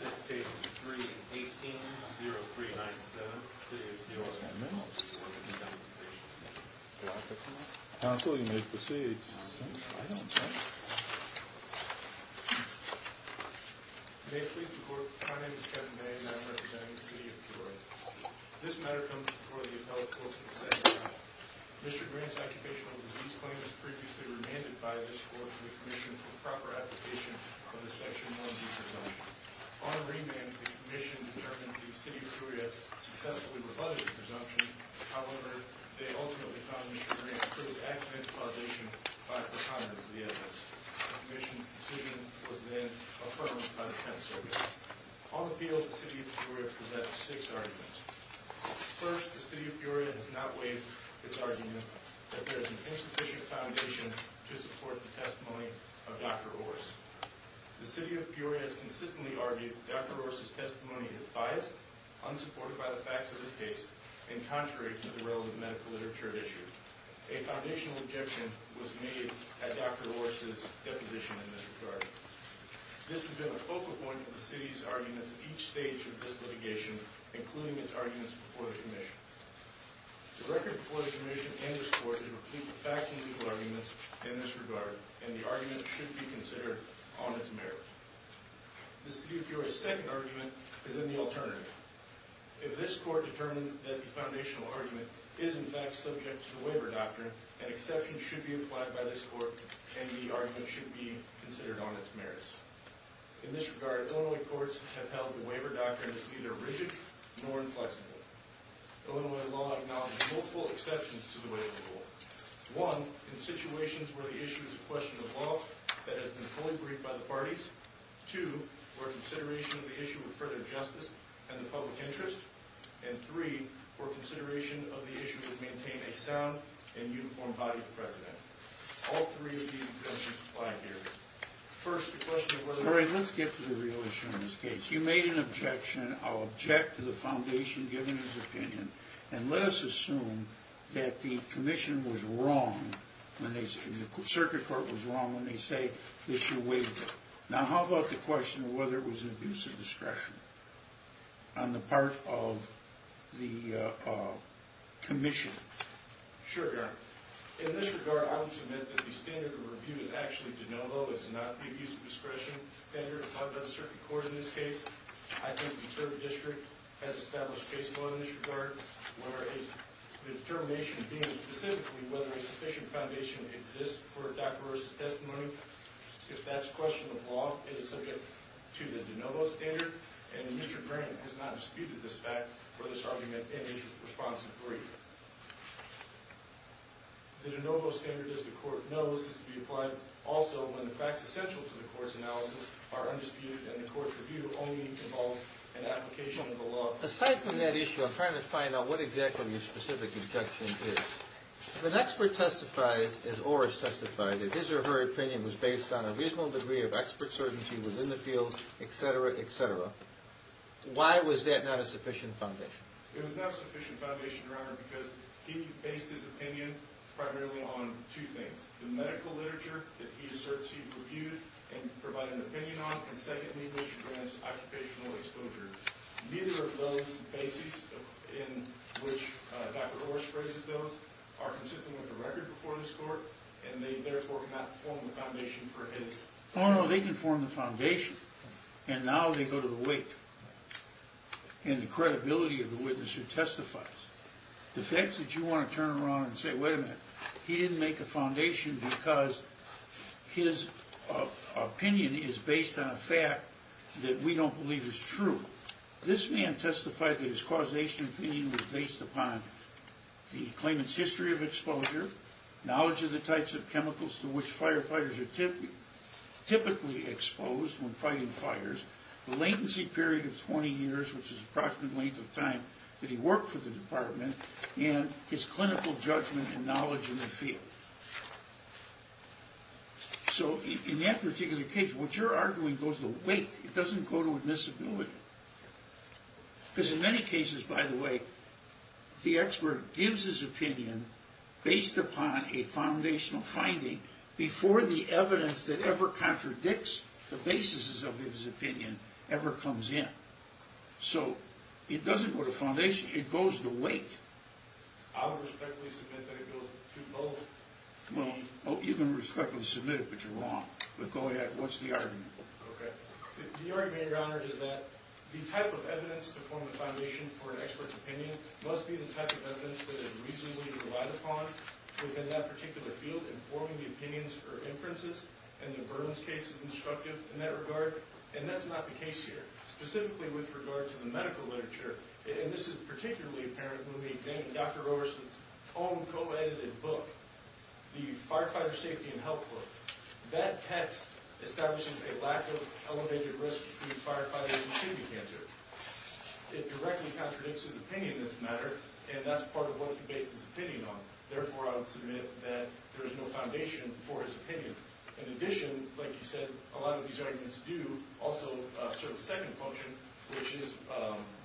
This case is 3-18-0397, City of Peoria Council, you may proceed May it please the Court, my name is Kevin Day and I'm representing the City of Peoria This matter comes before the Appellate Court for the second time Mr. Grant's occupational disease claim was previously remanded by this Court to the Commission for proper application of the Section 1B presumption On remand, the Commission determined the City of Peoria successfully rebutted the presumption However, they ultimately found Mr. Grant to prove accidental violation by a precondition to the evidence The Commission's decision was then affirmed by the Penitentiary On the field, the City of Peoria presents six arguments First, the City of Peoria has not waived its argument that there is an insufficient foundation to support the testimony of Dr. Orr Second, the City of Peoria has consistently argued that Dr. Orr's testimony is biased, unsupported by the facts of this case and contrary to the relevant medical literature issued A foundational objection was made at Dr. Orr's deposition in this regard This has been a focal point of the City's arguments at each stage of this litigation, including its arguments before the Commission The record before the Commission and this Court is a repeat of facts and legal arguments in this regard and the argument should be considered on its merits The City of Peoria's second argument is in the alternative If this Court determines that the foundational argument is in fact subject to the waiver doctrine an exception should be applied by this Court and the argument should be considered on its merits In this regard, Illinois courts have held the waiver doctrine is neither rigid nor inflexible Illinois law acknowledges multiple exceptions to the waiver rule One, in situations where the issue is a question of law that has been fully briefed by the parties Two, for consideration of the issue of further justice and the public interest and three, for consideration of the issue of maintaining a sound and uniform body of precedent All three of these objections apply here First, the question of whether... All right, let's get to the real issue in this case Since you made an objection, I'll object to the foundation given his opinion and let us assume that the Commission was wrong and the Circuit Court was wrong when they say this is a waiver Now, how about the question of whether it was an abuse of discretion on the part of the Commission? Sure, Your Honor In this regard, I will submit that the standard of review is actually de novo It is not the abuse of discretion standard applied by the Circuit Court in this case I think the Deterred District has established case law in this regard The determination being specifically whether a sufficient foundation exists for a doctoror's testimony If that's a question of law, it is subject to the de novo standard and Mr. Grant has not disputed this fact for this argument in his response in three The de novo standard, as the Court knows, is to be applied also when the facts essential to the Court's analysis are undisputed and the Court's review only involves an application of the law Aside from that issue, I'm trying to find out what exactly your specific objection is If an expert testifies, as Oris testified, that his or her opinion was based on a reasonable degree of expert certainty within the field, etc., etc. Why was that not a sufficient foundation? It was not a sufficient foundation, Your Honor, because he based his opinion primarily on two things The medical literature that he asserts he reviewed and provided an opinion on and secondly, which grants occupational exposure Neither of those basics in which Dr. Oris phrases those are consistent with the record before this Court and they therefore cannot form the foundation for his Oh no, they can form the foundation and now they go to the wake and the credibility of the witness who testifies The fact that you want to turn around and say, wait a minute he didn't make a foundation because his opinion is based on a fact that we don't believe is true This man testified that his causation opinion was based upon the claimant's history of exposure knowledge of the types of chemicals to which firefighters are typically exposed when fighting fires the latency period of 20 years, which is approximately the length of time that he worked for the department and his clinical judgment and knowledge in the field So in that particular case, what you're arguing goes to the wake It doesn't go to admissibility Because in many cases, by the way, the expert gives his opinion based upon a foundational finding before the evidence that ever contradicts the basis of his opinion ever comes in So it doesn't go to foundation, it goes to wake I would respectfully submit that it goes to both Well, you can respectfully submit it, but you're wrong But go ahead, what's the argument? The argument, Your Honor, is that the type of evidence to form the foundation for an expert's opinion must be the type of evidence that is reasonably relied upon within that particular field, informing the opinions or inferences and the Burman's case is instructive in that regard and that's not the case here Specifically with regard to the medical literature and this is particularly apparent when we examine Dr. Roverson's own co-edited book The Firefighter Safety and Health Book That text establishes a lack of elevated risk between firefighters and kidney cancer It directly contradicts his opinion in this matter and that's part of what he based his opinion on Therefore, I would submit that there is no foundation for his opinion In addition, like you said, a lot of these arguments do also serve a second function which is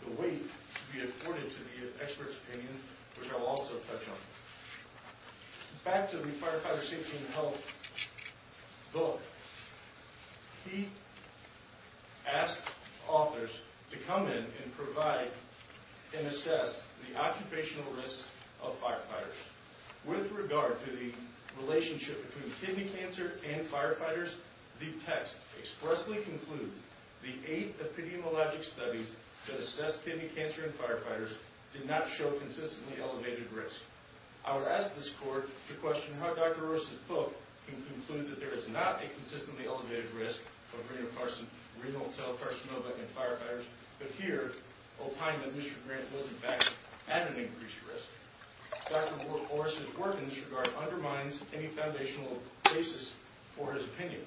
the weight to be afforded to the expert's opinion, which I will also touch on Back to the Firefighter Safety and Health Book He asked authors to come in and provide and assess the occupational risks of firefighters With regard to the relationship between kidney cancer and firefighters the text expressly concludes the eight epidemiologic studies that assess kidney cancer in firefighters did not show consistently elevated risk I would ask this court to question how Dr. Roverson's book can conclude that there is not a consistently elevated risk of renal cell carcinoma in firefighters but here, opine that Mr. Grant was in fact at an increased risk Dr. Roverson's work in this regard undermines any foundational basis for his opinion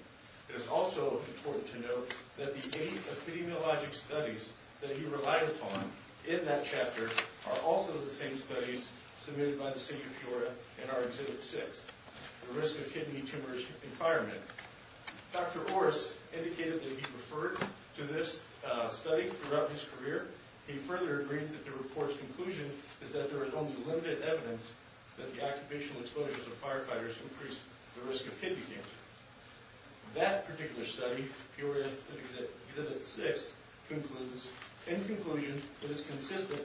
It is also important to note that the eight epidemiologic studies that he relied upon in that chapter are also the same studies submitted by the City of Florida in our Exhibit 6 The Risk of Kidney Tumors in Firemen Dr. Orris indicated that he referred to this study throughout his career He further agreed that the report's conclusion is that there is only limited evidence that the occupational exposures of firefighters increase the risk of kidney cancer That particular study, Peoria Exhibit 6, concludes In conclusion, it is consistent,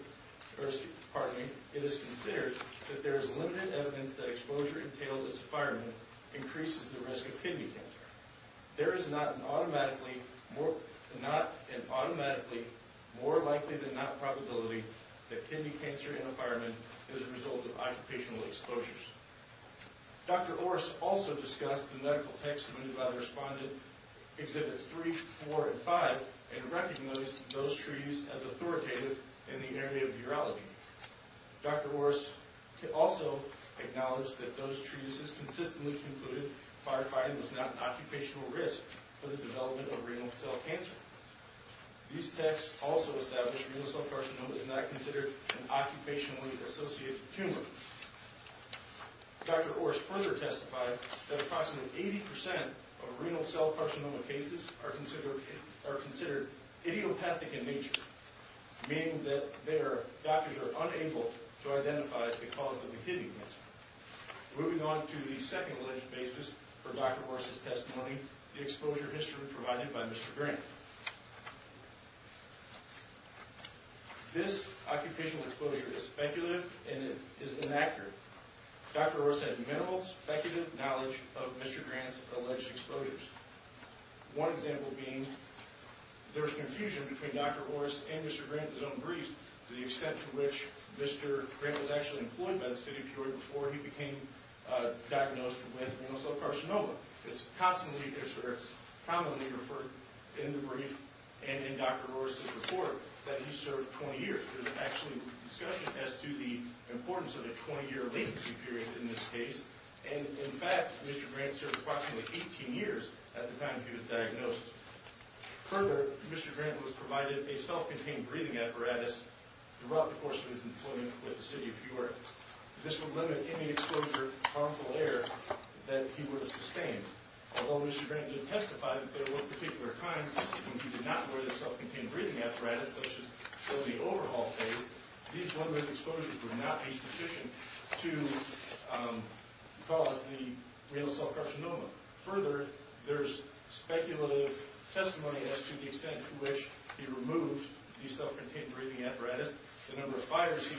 pardon me, it is considered that there is limited evidence that exposure entailed as a fireman increases the risk of kidney cancer There is not an automatically more likely than not probability that kidney cancer in a fireman is a result of occupational exposures Dr. Orris also discussed the medical text submitted by the Respondent Exhibits 3, 4, and 5 and recognized those treatises as authoritative in the area of urology Dr. Orris also acknowledged that those treatises consistently concluded firefighting was not an occupational risk for the development of renal cell cancer These texts also established renal cell carcinoma is not considered an occupationally associated tumor Dr. Orris further testified that approximately 80% of renal cell carcinoma cases are considered idiopathic in nature meaning that doctors are unable to identify the cause of the kidney cancer Moving on to the second alleged basis for Dr. Orris' testimony the exposure history provided by Mr. Grant This occupational exposure is speculative and it is inaccurate Dr. Orris had minimal speculative knowledge of Mr. Grant's alleged exposures One example being there was confusion between Dr. Orris and Mr. Grant in his own brief to the extent to which Mr. Grant was actually employed by the city of Peoria before he became diagnosed with renal cell carcinoma It's commonly referred in the brief and in Dr. Orris' report that he served 20 years There's actually discussion as to the importance of a 20 year latency period in this case and in fact Mr. Grant served approximately 18 years at the time he was diagnosed Further, Mr. Grant was provided a self-contained breathing apparatus throughout the course of his employment with the city of Peoria This would limit any exposure to harmful air that he would have sustained Although Mr. Grant did testify that there were particular times when he did not wear the self-contained breathing apparatus such as during the overhaul phase these one-week exposures would not be sufficient to cause the renal cell carcinoma Further, there's speculative testimony as to the extent to which he removed the self-contained breathing apparatus the number of fighters he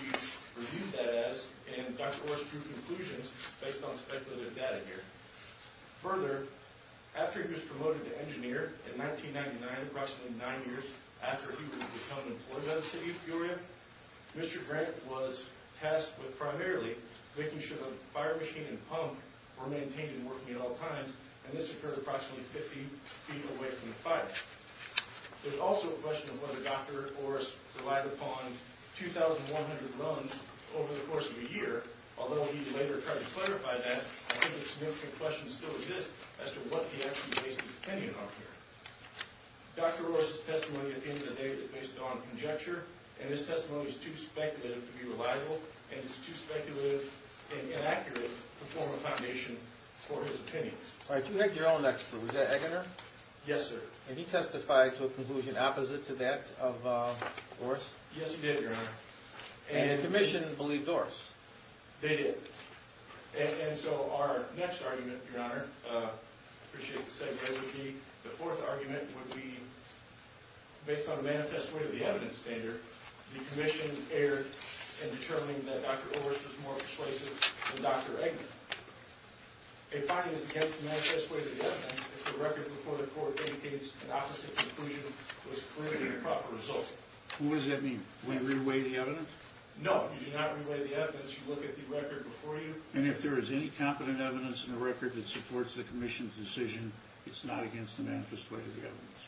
reviewed that as and Dr. Orris drew conclusions based on speculative data here Further, after he was promoted to engineer in 1999 approximately 9 years after he would become employed by the city of Peoria Mr. Grant was tasked with primarily making sure the fire machine and pump were maintained and working at all times and this occurred approximately 50 feet away from the fire There's also a question of whether Dr. Orris relied upon 2,100 runs over the course of a year although he later tried to clarify that I think a significant question still exists as to what he actually based his opinion on here Dr. Orris' testimony at the end of the day was based on conjecture and his testimony is too speculative to be reliable and it's too speculative and inaccurate to form a foundation for his opinions All right, you had your own expert, was that Eggener? Yes, sir And he testified to a conclusion opposite to that of Orris? Yes, he did, Your Honor And the commission believed Orris? They did And so our next argument, Your Honor I appreciate the segue with me The fourth argument would be based on a manifest way of the evidence standard the commission erred in determining that Dr. Orris was more persuasive than Dr. Eggener A fine is against the manifest way of the evidence if the record before the court indicates an opposite conclusion was clearly an improper result What does that mean? Do we re-weigh the evidence? No, you do not re-weigh the evidence, you look at the record before you And if there is any competent evidence in the record that supports the commission's decision it's not against the manifest way of the evidence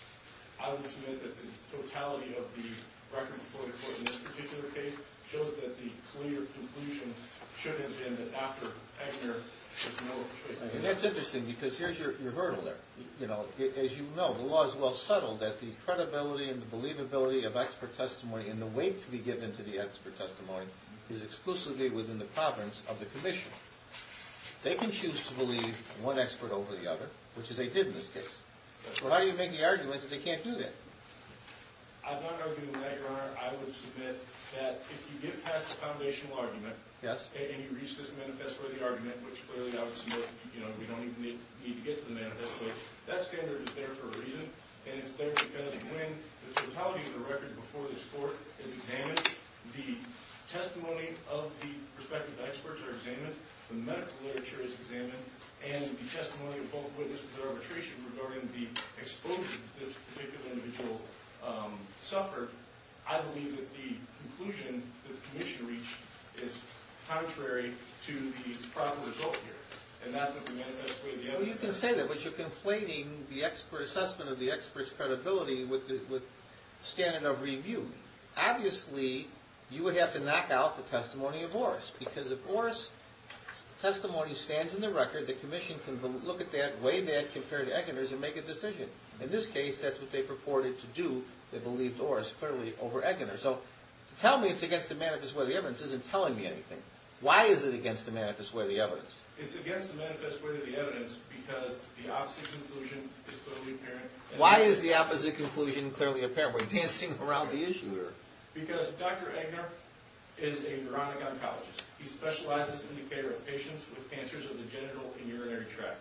I will submit that the totality of the record before the court in this particular case shows that the clear conclusion should have been that Dr. Eggener was more persuasive And that's interesting because here's your hurdle there As you know, the law is well settled that the credibility and the believability of expert testimony and the weight to be given to the expert testimony is exclusively within the province of the commission They can choose to believe one expert over the other, which is they did in this case So how do you make the argument that they can't do that? I'm not arguing that, Your Honor I would submit that if you get past the foundational argument and you reach this manifest worthy argument, which clearly I would submit you know, we don't even need to get to the manifest way that standard is there for a reason and it's there because when the totality of the record before this court is examined the testimony of the respective experts are examined the medical literature is examined and the testimony of both witnesses at arbitration regarding the exposure that this particular individual suffered I believe that the conclusion that the commission reached is contrary to the proper result here and that's what the manifest way of the evidence is Well, you can say that, but you're conflating the assessment of the expert's credibility with standard of review Obviously, you would have to knock out the testimony of Morris because if Morris' testimony stands in the record the commission can look at that, weigh that, compare it to Eggener's and make a decision In this case, that's what they purported to do They believed Morris clearly over Eggener So, to tell me it's against the manifest way of the evidence isn't telling me anything Why is it against the manifest way of the evidence? It's against the manifest way of the evidence because the opposite conclusion is clearly apparent Why is the opposite conclusion clearly apparent? Were you dancing around the issue here? Because Dr. Eggener is a neurotic oncologist He specializes in the care of patients with cancers of the genital and urinary tract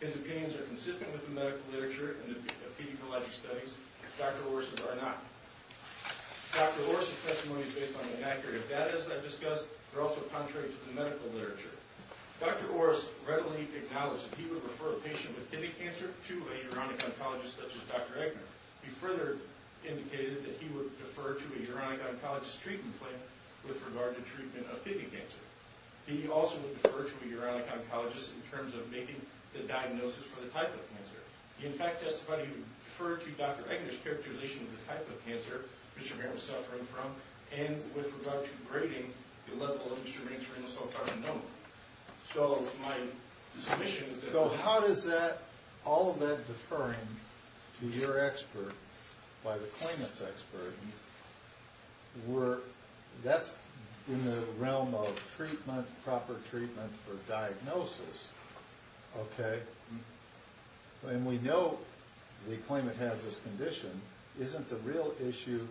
His opinions are consistent with the medical literature and the pediatology studies Dr. Morris' are not Dr. Morris' testimony is based on inaccurate data, as I've discussed They're also contrary to the medical literature Dr. Morris readily acknowledged that he would refer a patient with tibia cancer to a neurotic oncologist such as Dr. Eggener He further indicated that he would defer to a neurotic oncologist's treatment plan with regard to treatment of tibia cancer He also would defer to a neurotic oncologist in terms of making the diagnosis for the type of cancer He, in fact, testified he would defer to Dr. Eggener's characterization of the type of cancer Mr. Graham was suffering from and with regard to grading the level of Mr. Graham's so-called anoma So, my submission is that... So, how does that, all of that deferring to your expert by the claimant's expert That's in the realm of treatment proper treatment for diagnosis Okay And we know the claimant has this condition Isn't the real issue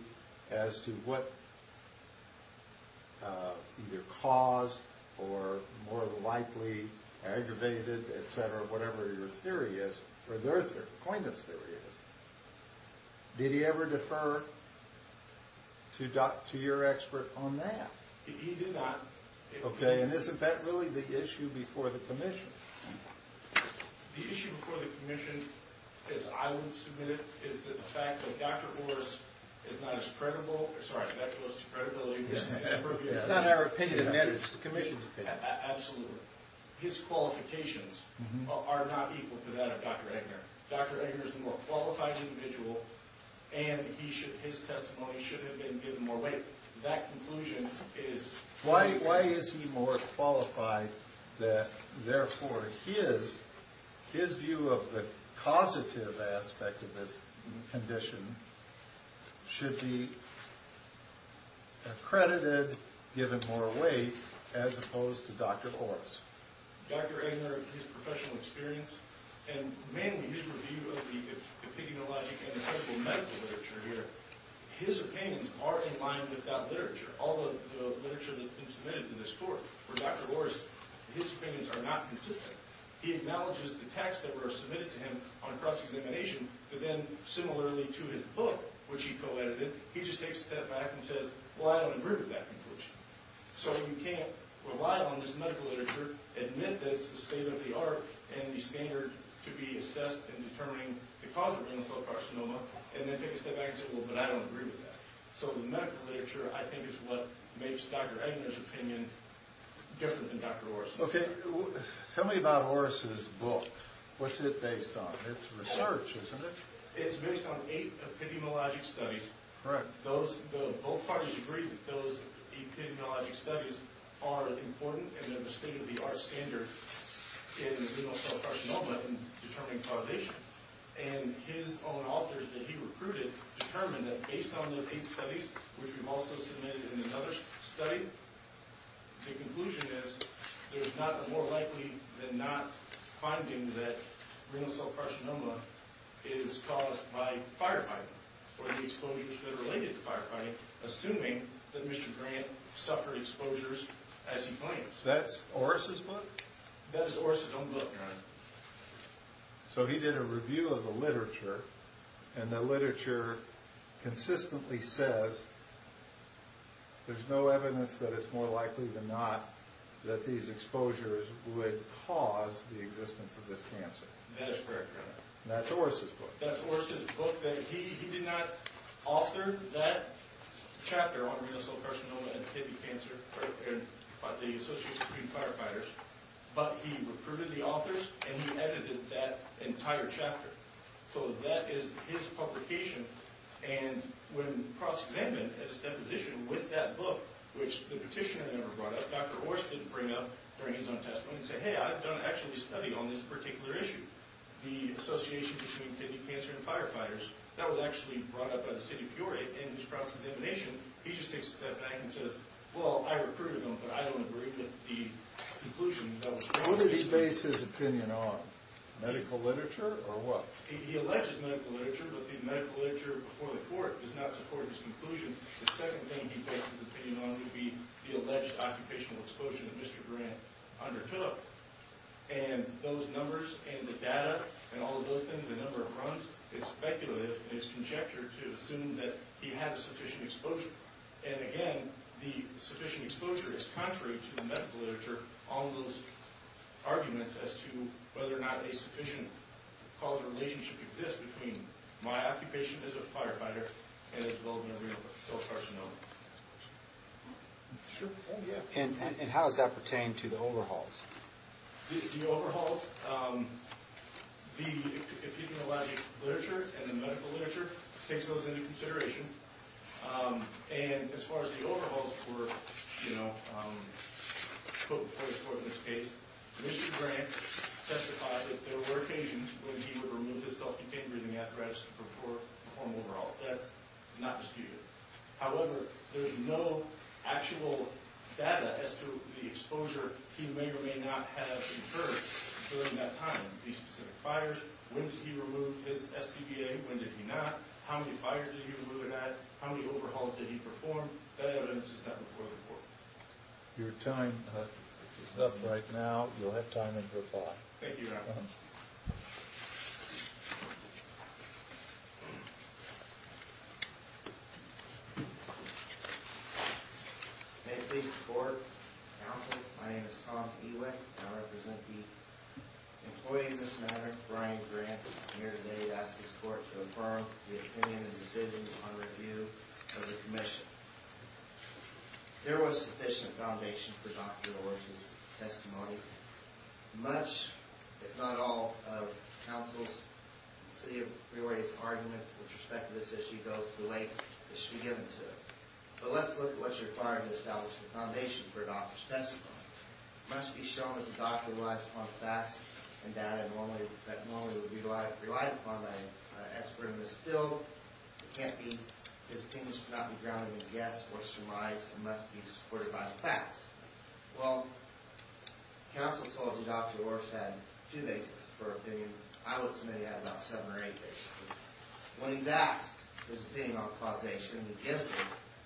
as to what either cause or more likely aggravated, etc. whatever your theory is or the claimant's theory is Did he ever defer to your expert on that? He did not Okay, and isn't that really the issue before the commission? The issue before the commission as I would submit it is the fact that Dr. Morris is not as credible Sorry, Dr. Morris' credibility It's not our opinion, it's the commission's opinion Absolutely His qualifications are not equal to that of Dr. Eggener Dr. Eggener is a more qualified individual and his testimony should have been given more weight That conclusion is... Why is he more qualified that therefore his view of the causative aspect of this condition should be accredited, given more weight as opposed to Dr. Morris' Dr. Eggener, his professional experience and mainly his review of the epigenologic and medical literature here His opinions are in line with that literature All of the literature that's been submitted to this court For Dr. Morris, his opinions are not consistent He acknowledges the texts that were submitted to him on cross-examination but then, similarly to his book, which he co-edited he just takes a step back and says Well, I don't agree with that conclusion So you can't rely on this medical literature admit that it's the state of the art and the standard to be assessed in determining the causative endothelial carcinoma and then take a step back and say Well, but I don't agree with that So the medical literature, I think, is what makes Dr. Eggener's opinion different than Dr. Morris' Okay, tell me about Morris' book What's it based on? It's research, isn't it? It's based on eight epigenologic studies Correct Both parties agree that those epigenologic studies are important and that the state of the art standard in endothelial carcinoma in determining causation and his own authors that he recruited determined that based on those eight studies which we've also submitted in another study the conclusion is there's more likely than not finding that endothelial carcinoma is caused by firefighting or the exposures that are related to firefighting assuming that Mr. Grant suffered exposures as he claims That's Oris' book? That is Oris' own book, Your Honor So he did a review of the literature and the literature consistently says there's no evidence that it's more likely than not that these exposures would cause the existence of this cancer That is correct, Your Honor That's Oris' book That's Oris' book He did not author that chapter on endothelial carcinoma and tibia cancer by the Associates between Firefighters but he recruited the authors and he edited that entire chapter So that is his publication and when cross-examined at his deposition with that book which the petitioner never brought up Dr. Oris didn't bring up during his own testimony and say, hey, I've actually studied on this particular issue the association between tibia cancer and firefighters that was actually brought up by the city of Peoria in his cross-examination he just takes a step back and says well, I recruited them but I don't agree with the conclusion What did he base his opinion on? Medical literature or what? He alleges medical literature but the medical literature before the court does not support his conclusion The second thing he based his opinion on would be the alleged occupational exposure that Mr. Grant undertook and those numbers and the data and all of those things, the number of runs it's speculative and it's conjectured to assume that he had sufficient exposure and again, the sufficient exposure is contrary to the medical literature on those arguments as to whether or not a sufficient causal relationship exists between my occupation as a firefighter and the development of your self-carcinoma And how does that pertain to the overhauls? The overhauls, if you can allow me literature and the medical literature takes those into consideration and as far as the overhauls were put before the court in this case Mr. Grant testified that there were occasions when he would remove his self-dependent breathing apparatus to perform overhauls that's not disputed However, there's no actual data as to the exposure he may or may not have incurred during that time These specific fires When did he remove his SCBA? When did he not? How many fires did he remove or not? How many overhauls did he perform? That evidence is not before the court Your time is up right now You'll have time until 5 Thank you, Your Honor May it please the Court Counsel, my name is Tom Ewick and I represent the employee in this matter Brian Grant I'm here today to ask this Court to affirm the opinion and decisions upon review of the commission There was sufficient foundation for Dr. Orr's testimony Much, if not all, of Counsel's City of Brewery's argument with respect to this issue But let's look at what's required to establish the foundation for a doctor's testimony It must be shown that the doctor relies upon facts and data that normally would be relied upon by an expert in this field His opinions cannot be grounded in yes or surmise and must be supported by the facts Well, Counsel told you Dr. Orr's had 2 bases for opinion I would submit he had about 7 or 8 bases When he's asked his opinion on causation he gives it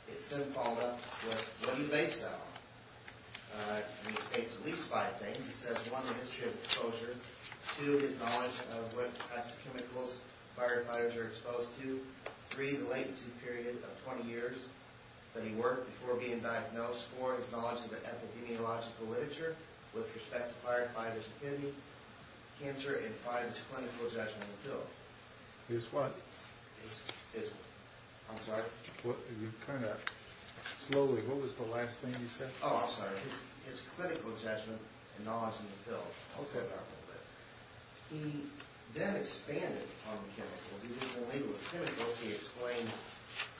It's then followed up with what he based it on He states at least 5 things He says 1. The history of exposure 2. His knowledge of what types of chemicals firefighters are exposed to 3. The latency period of 20 years that he worked before being diagnosed 4. His knowledge of the epidemiological literature with respect to firefighters' affinity 5. His clinical judgment in the field He then expanded upon chemicals He explained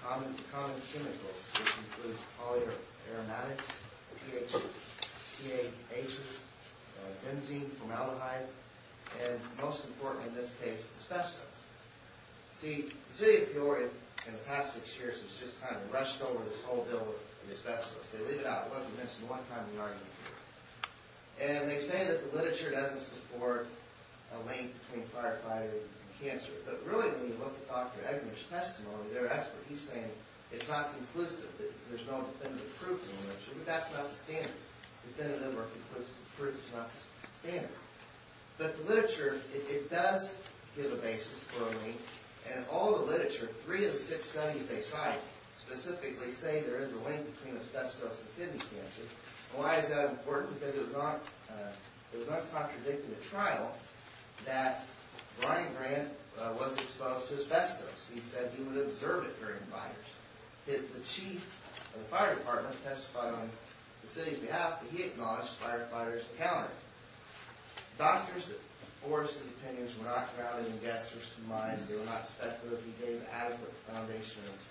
common chemicals which include polyaromatics PAHs benzene, formaldehyde and most importantly in this case, asbestos See, the city of Peoria in the past 6 years has just kind of rushed over this whole deal with asbestos They leave it out It wasn't mentioned one time in the argument here And they say that the literature doesn't support a link between firefighting and cancer But really when you look at Dr. Eggner's testimony they're experts He's saying it's not conclusive There's no definitive proof in the literature That's not the standard Definitive or conclusive proof is not the standard But the literature, it does give a basis for a link And in all the literature 3 of the 6 studies they cite specifically say there is a link between asbestos and kidney cancer Why is that important? Because it was not contradicting the trial that Brian Grant was exposed to asbestos He said he would observe it during fires The chief of the fire department testified on the city's behalf but he acknowledged firefighters accounted Doctors, Oris's opinions were not grounded in guess or surmise They were not speculative He gave adequate foundations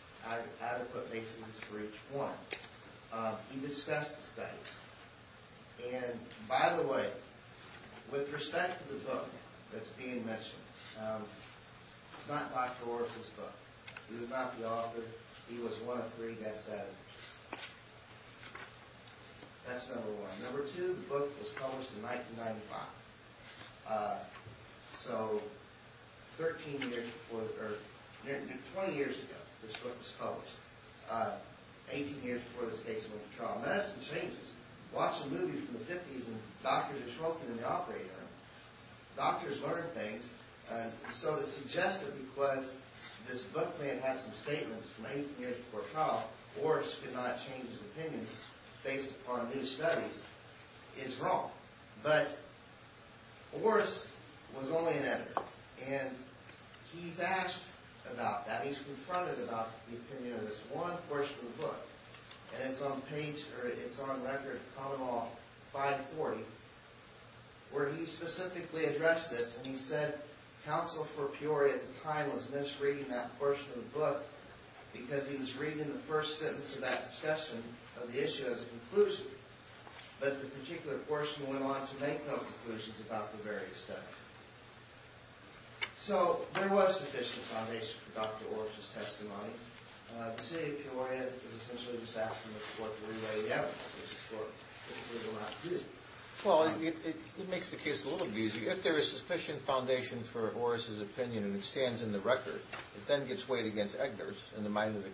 adequate basis for each point He discussed the studies And by the way with respect to the book that's being mentioned It's not Dr. Oris's book He was not the author He was one of 3 that said it That's number 1 Number 2 The book was published in 1995 So 13 years before 20 years ago this book was published 18 years before this case went to trial Medicine changes Watch a movie from the 50's and doctors are smoking in the operating room Doctors learn things So to suggest that because this book had some statements from 18 years before trial Oris could not change his opinions based upon new studies is wrong But Oris was only an editor And he's asked about that He's confronted about the opinion of this one person in the book And it's on record Common Law 540 Where he specifically addressed this And he said counsel for Peoria at the time was misreading that portion of the book because he was reading the first sentence of that discussion of the issue as a conclusion But the particular portion went on to make no conclusions about the various studies So there was sufficient foundation for Dr. Oris's testimony The city of Peoria was essentially just asking the court to rewrite the evidence which the court was allowed to do Well it makes the case a little easier If there is sufficient foundation for Oris's opinion and it stands in the record it then gets weighed against Eggner's in the mind of the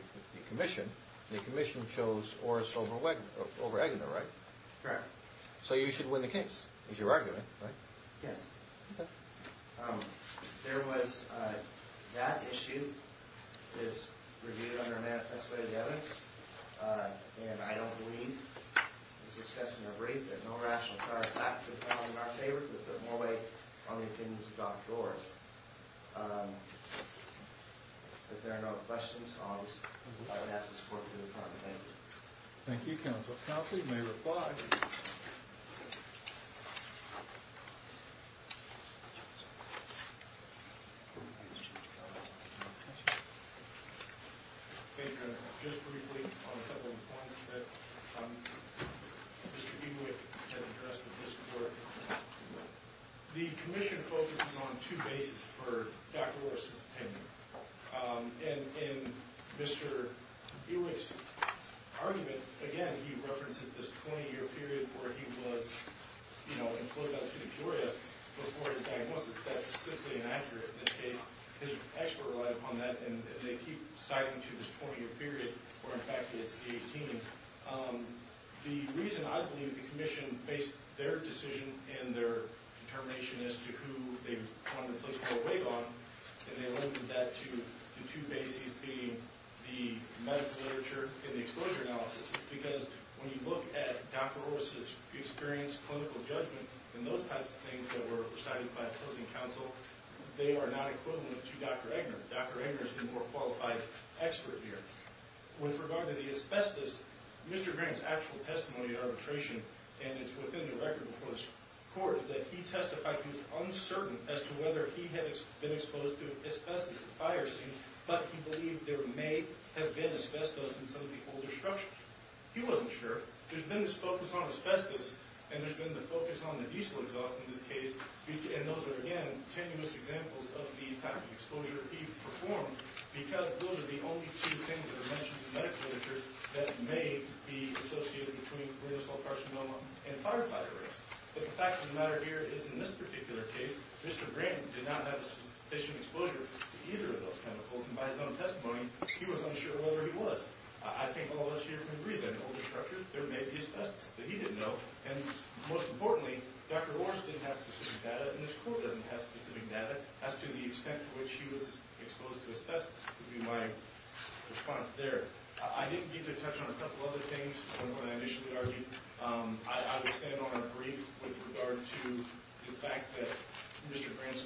commission The commission chose Oris over Eggner, right? Correct So you should win the case is your argument, right? Yes Okay There was that issue is reviewed under a manifest way of evidence And I don't believe it's discussed in the brief that no rational charge In fact, it's found in our favor to put more weight on the opinions of Dr. Oris If there are no questions I would ask the support of the department Thank you Thank you, Counsel Counsel, you may reply Just briefly on a couple of points that Mr. Ewick has addressed in this court The commission focuses on two bases for Dr. Oris's opinion In Mr. Ewick's argument again, he references this 20-year period where he was you know, enclosed by the city of Peoria before the diagnosis That's simply inaccurate In this case his expert relied upon that and they keep citing to this 20-year period where in fact it's 18 The reason I believe the commission based their decision and their determination as to who they wanted to put more weight on and they alluded that to the two bases being the medical literature and the exposure analysis because when you look at Dr. Oris's experience clinical judgment and those types of things that were recited by opposing counsel they are not equivalent to Dr. Eggner Dr. Eggner is the more qualified expert here With regard to the asbestos Mr. Green's actual testimony at arbitration and it's within the record before this court that he testified he was uncertain as to whether he had been exposed to asbestos in the fire scene but he believed there may have been asbestos in some of the older structures He wasn't sure There's been this focus on asbestos and there's been the focus on the diesel exhaust in this case and those are again tenuous examples of the type of exposure he performed because those are the only two things that are mentioned in the medical literature that may be associated between lethal carcinoma and firefighter risk But the fact of the matter here is in this particular case Mr. Green did not have sufficient exposure to either of those chemicals and by his own testimony he was unsure whether he was I think all of us here can agree that in older structures there may be asbestos but he didn't know and most importantly Dr. Oris didn't have specific data and this court doesn't have specific data as to the extent to which he was exposed to asbestos would be my response there I didn't get to touch on a couple other things from what I initially argued I would stand on our brief with regard to the fact that Mr. Green's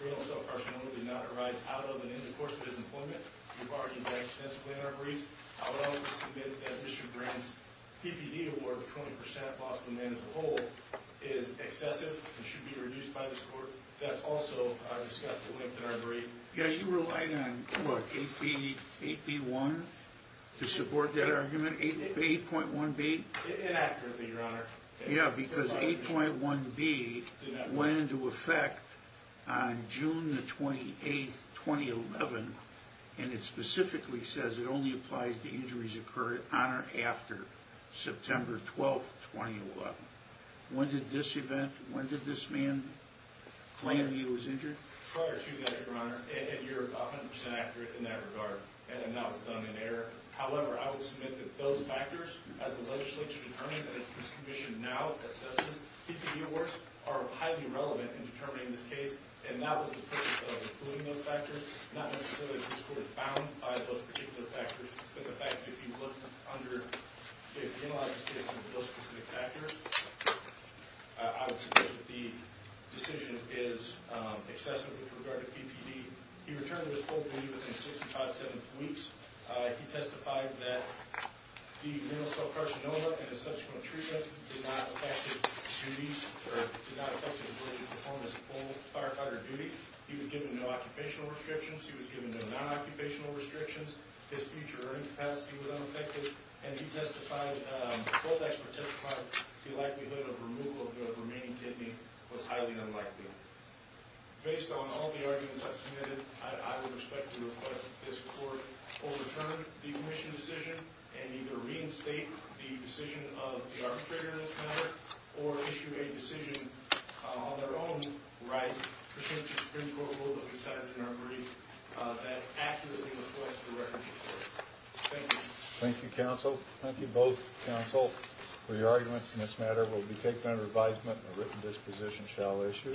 real self-carcinoma did not arise out of and in the course of his employment We've argued that extensively in our brief I would also submit that Mr. Green's PPD award of 20% loss to the man as a whole is excessive and should be reduced by this court That's also discussed at length in our brief Yeah, you relied on 8B1 to support that argument 8.1B? Inaccurately, Your Honor Yeah, because 8.1B went into effect on June 28, 2011 and it specifically says it only applies to injuries occurred on or after September 12, 2011 When did this event when did this man claim he was injured? Prior to that, Your Honor and you're 100% accurate in that regard and that was done in error However, I would submit that those factors as the legislature determined and as this commission now assesses PPD awards are highly relevant in determining this case and that was the purpose of including those factors not necessarily because it was found by those particular factors but the fact that if you look under if you analyze this case for those specific factors I would submit that the decision is excessive with regard to PPD He returned to his full duty within 6-7 weeks He testified that the nasal subcarcinoma and his subsequent treatment did not affect his duty or did not affect his ability to perform his full firefighter duty He was given no occupational restrictions He was given no non-occupational restrictions His future earning capacity was unaffected and he testified both experts testified the likelihood of removal of the remaining kidney was highly unlikely Based on all the arguments I've submitted I would respectfully request that this court overturn the commission's decision and either reinstate the decision of the arbitrator in this matter or issue a decision on their own right pursuant to the Supreme Court rule that we cited in our brief that accurately reflects the record of the court Thank you Thank you counsel Thank you both counsel for your arguments in this matter It will be taken under advisement a written disposition shall issue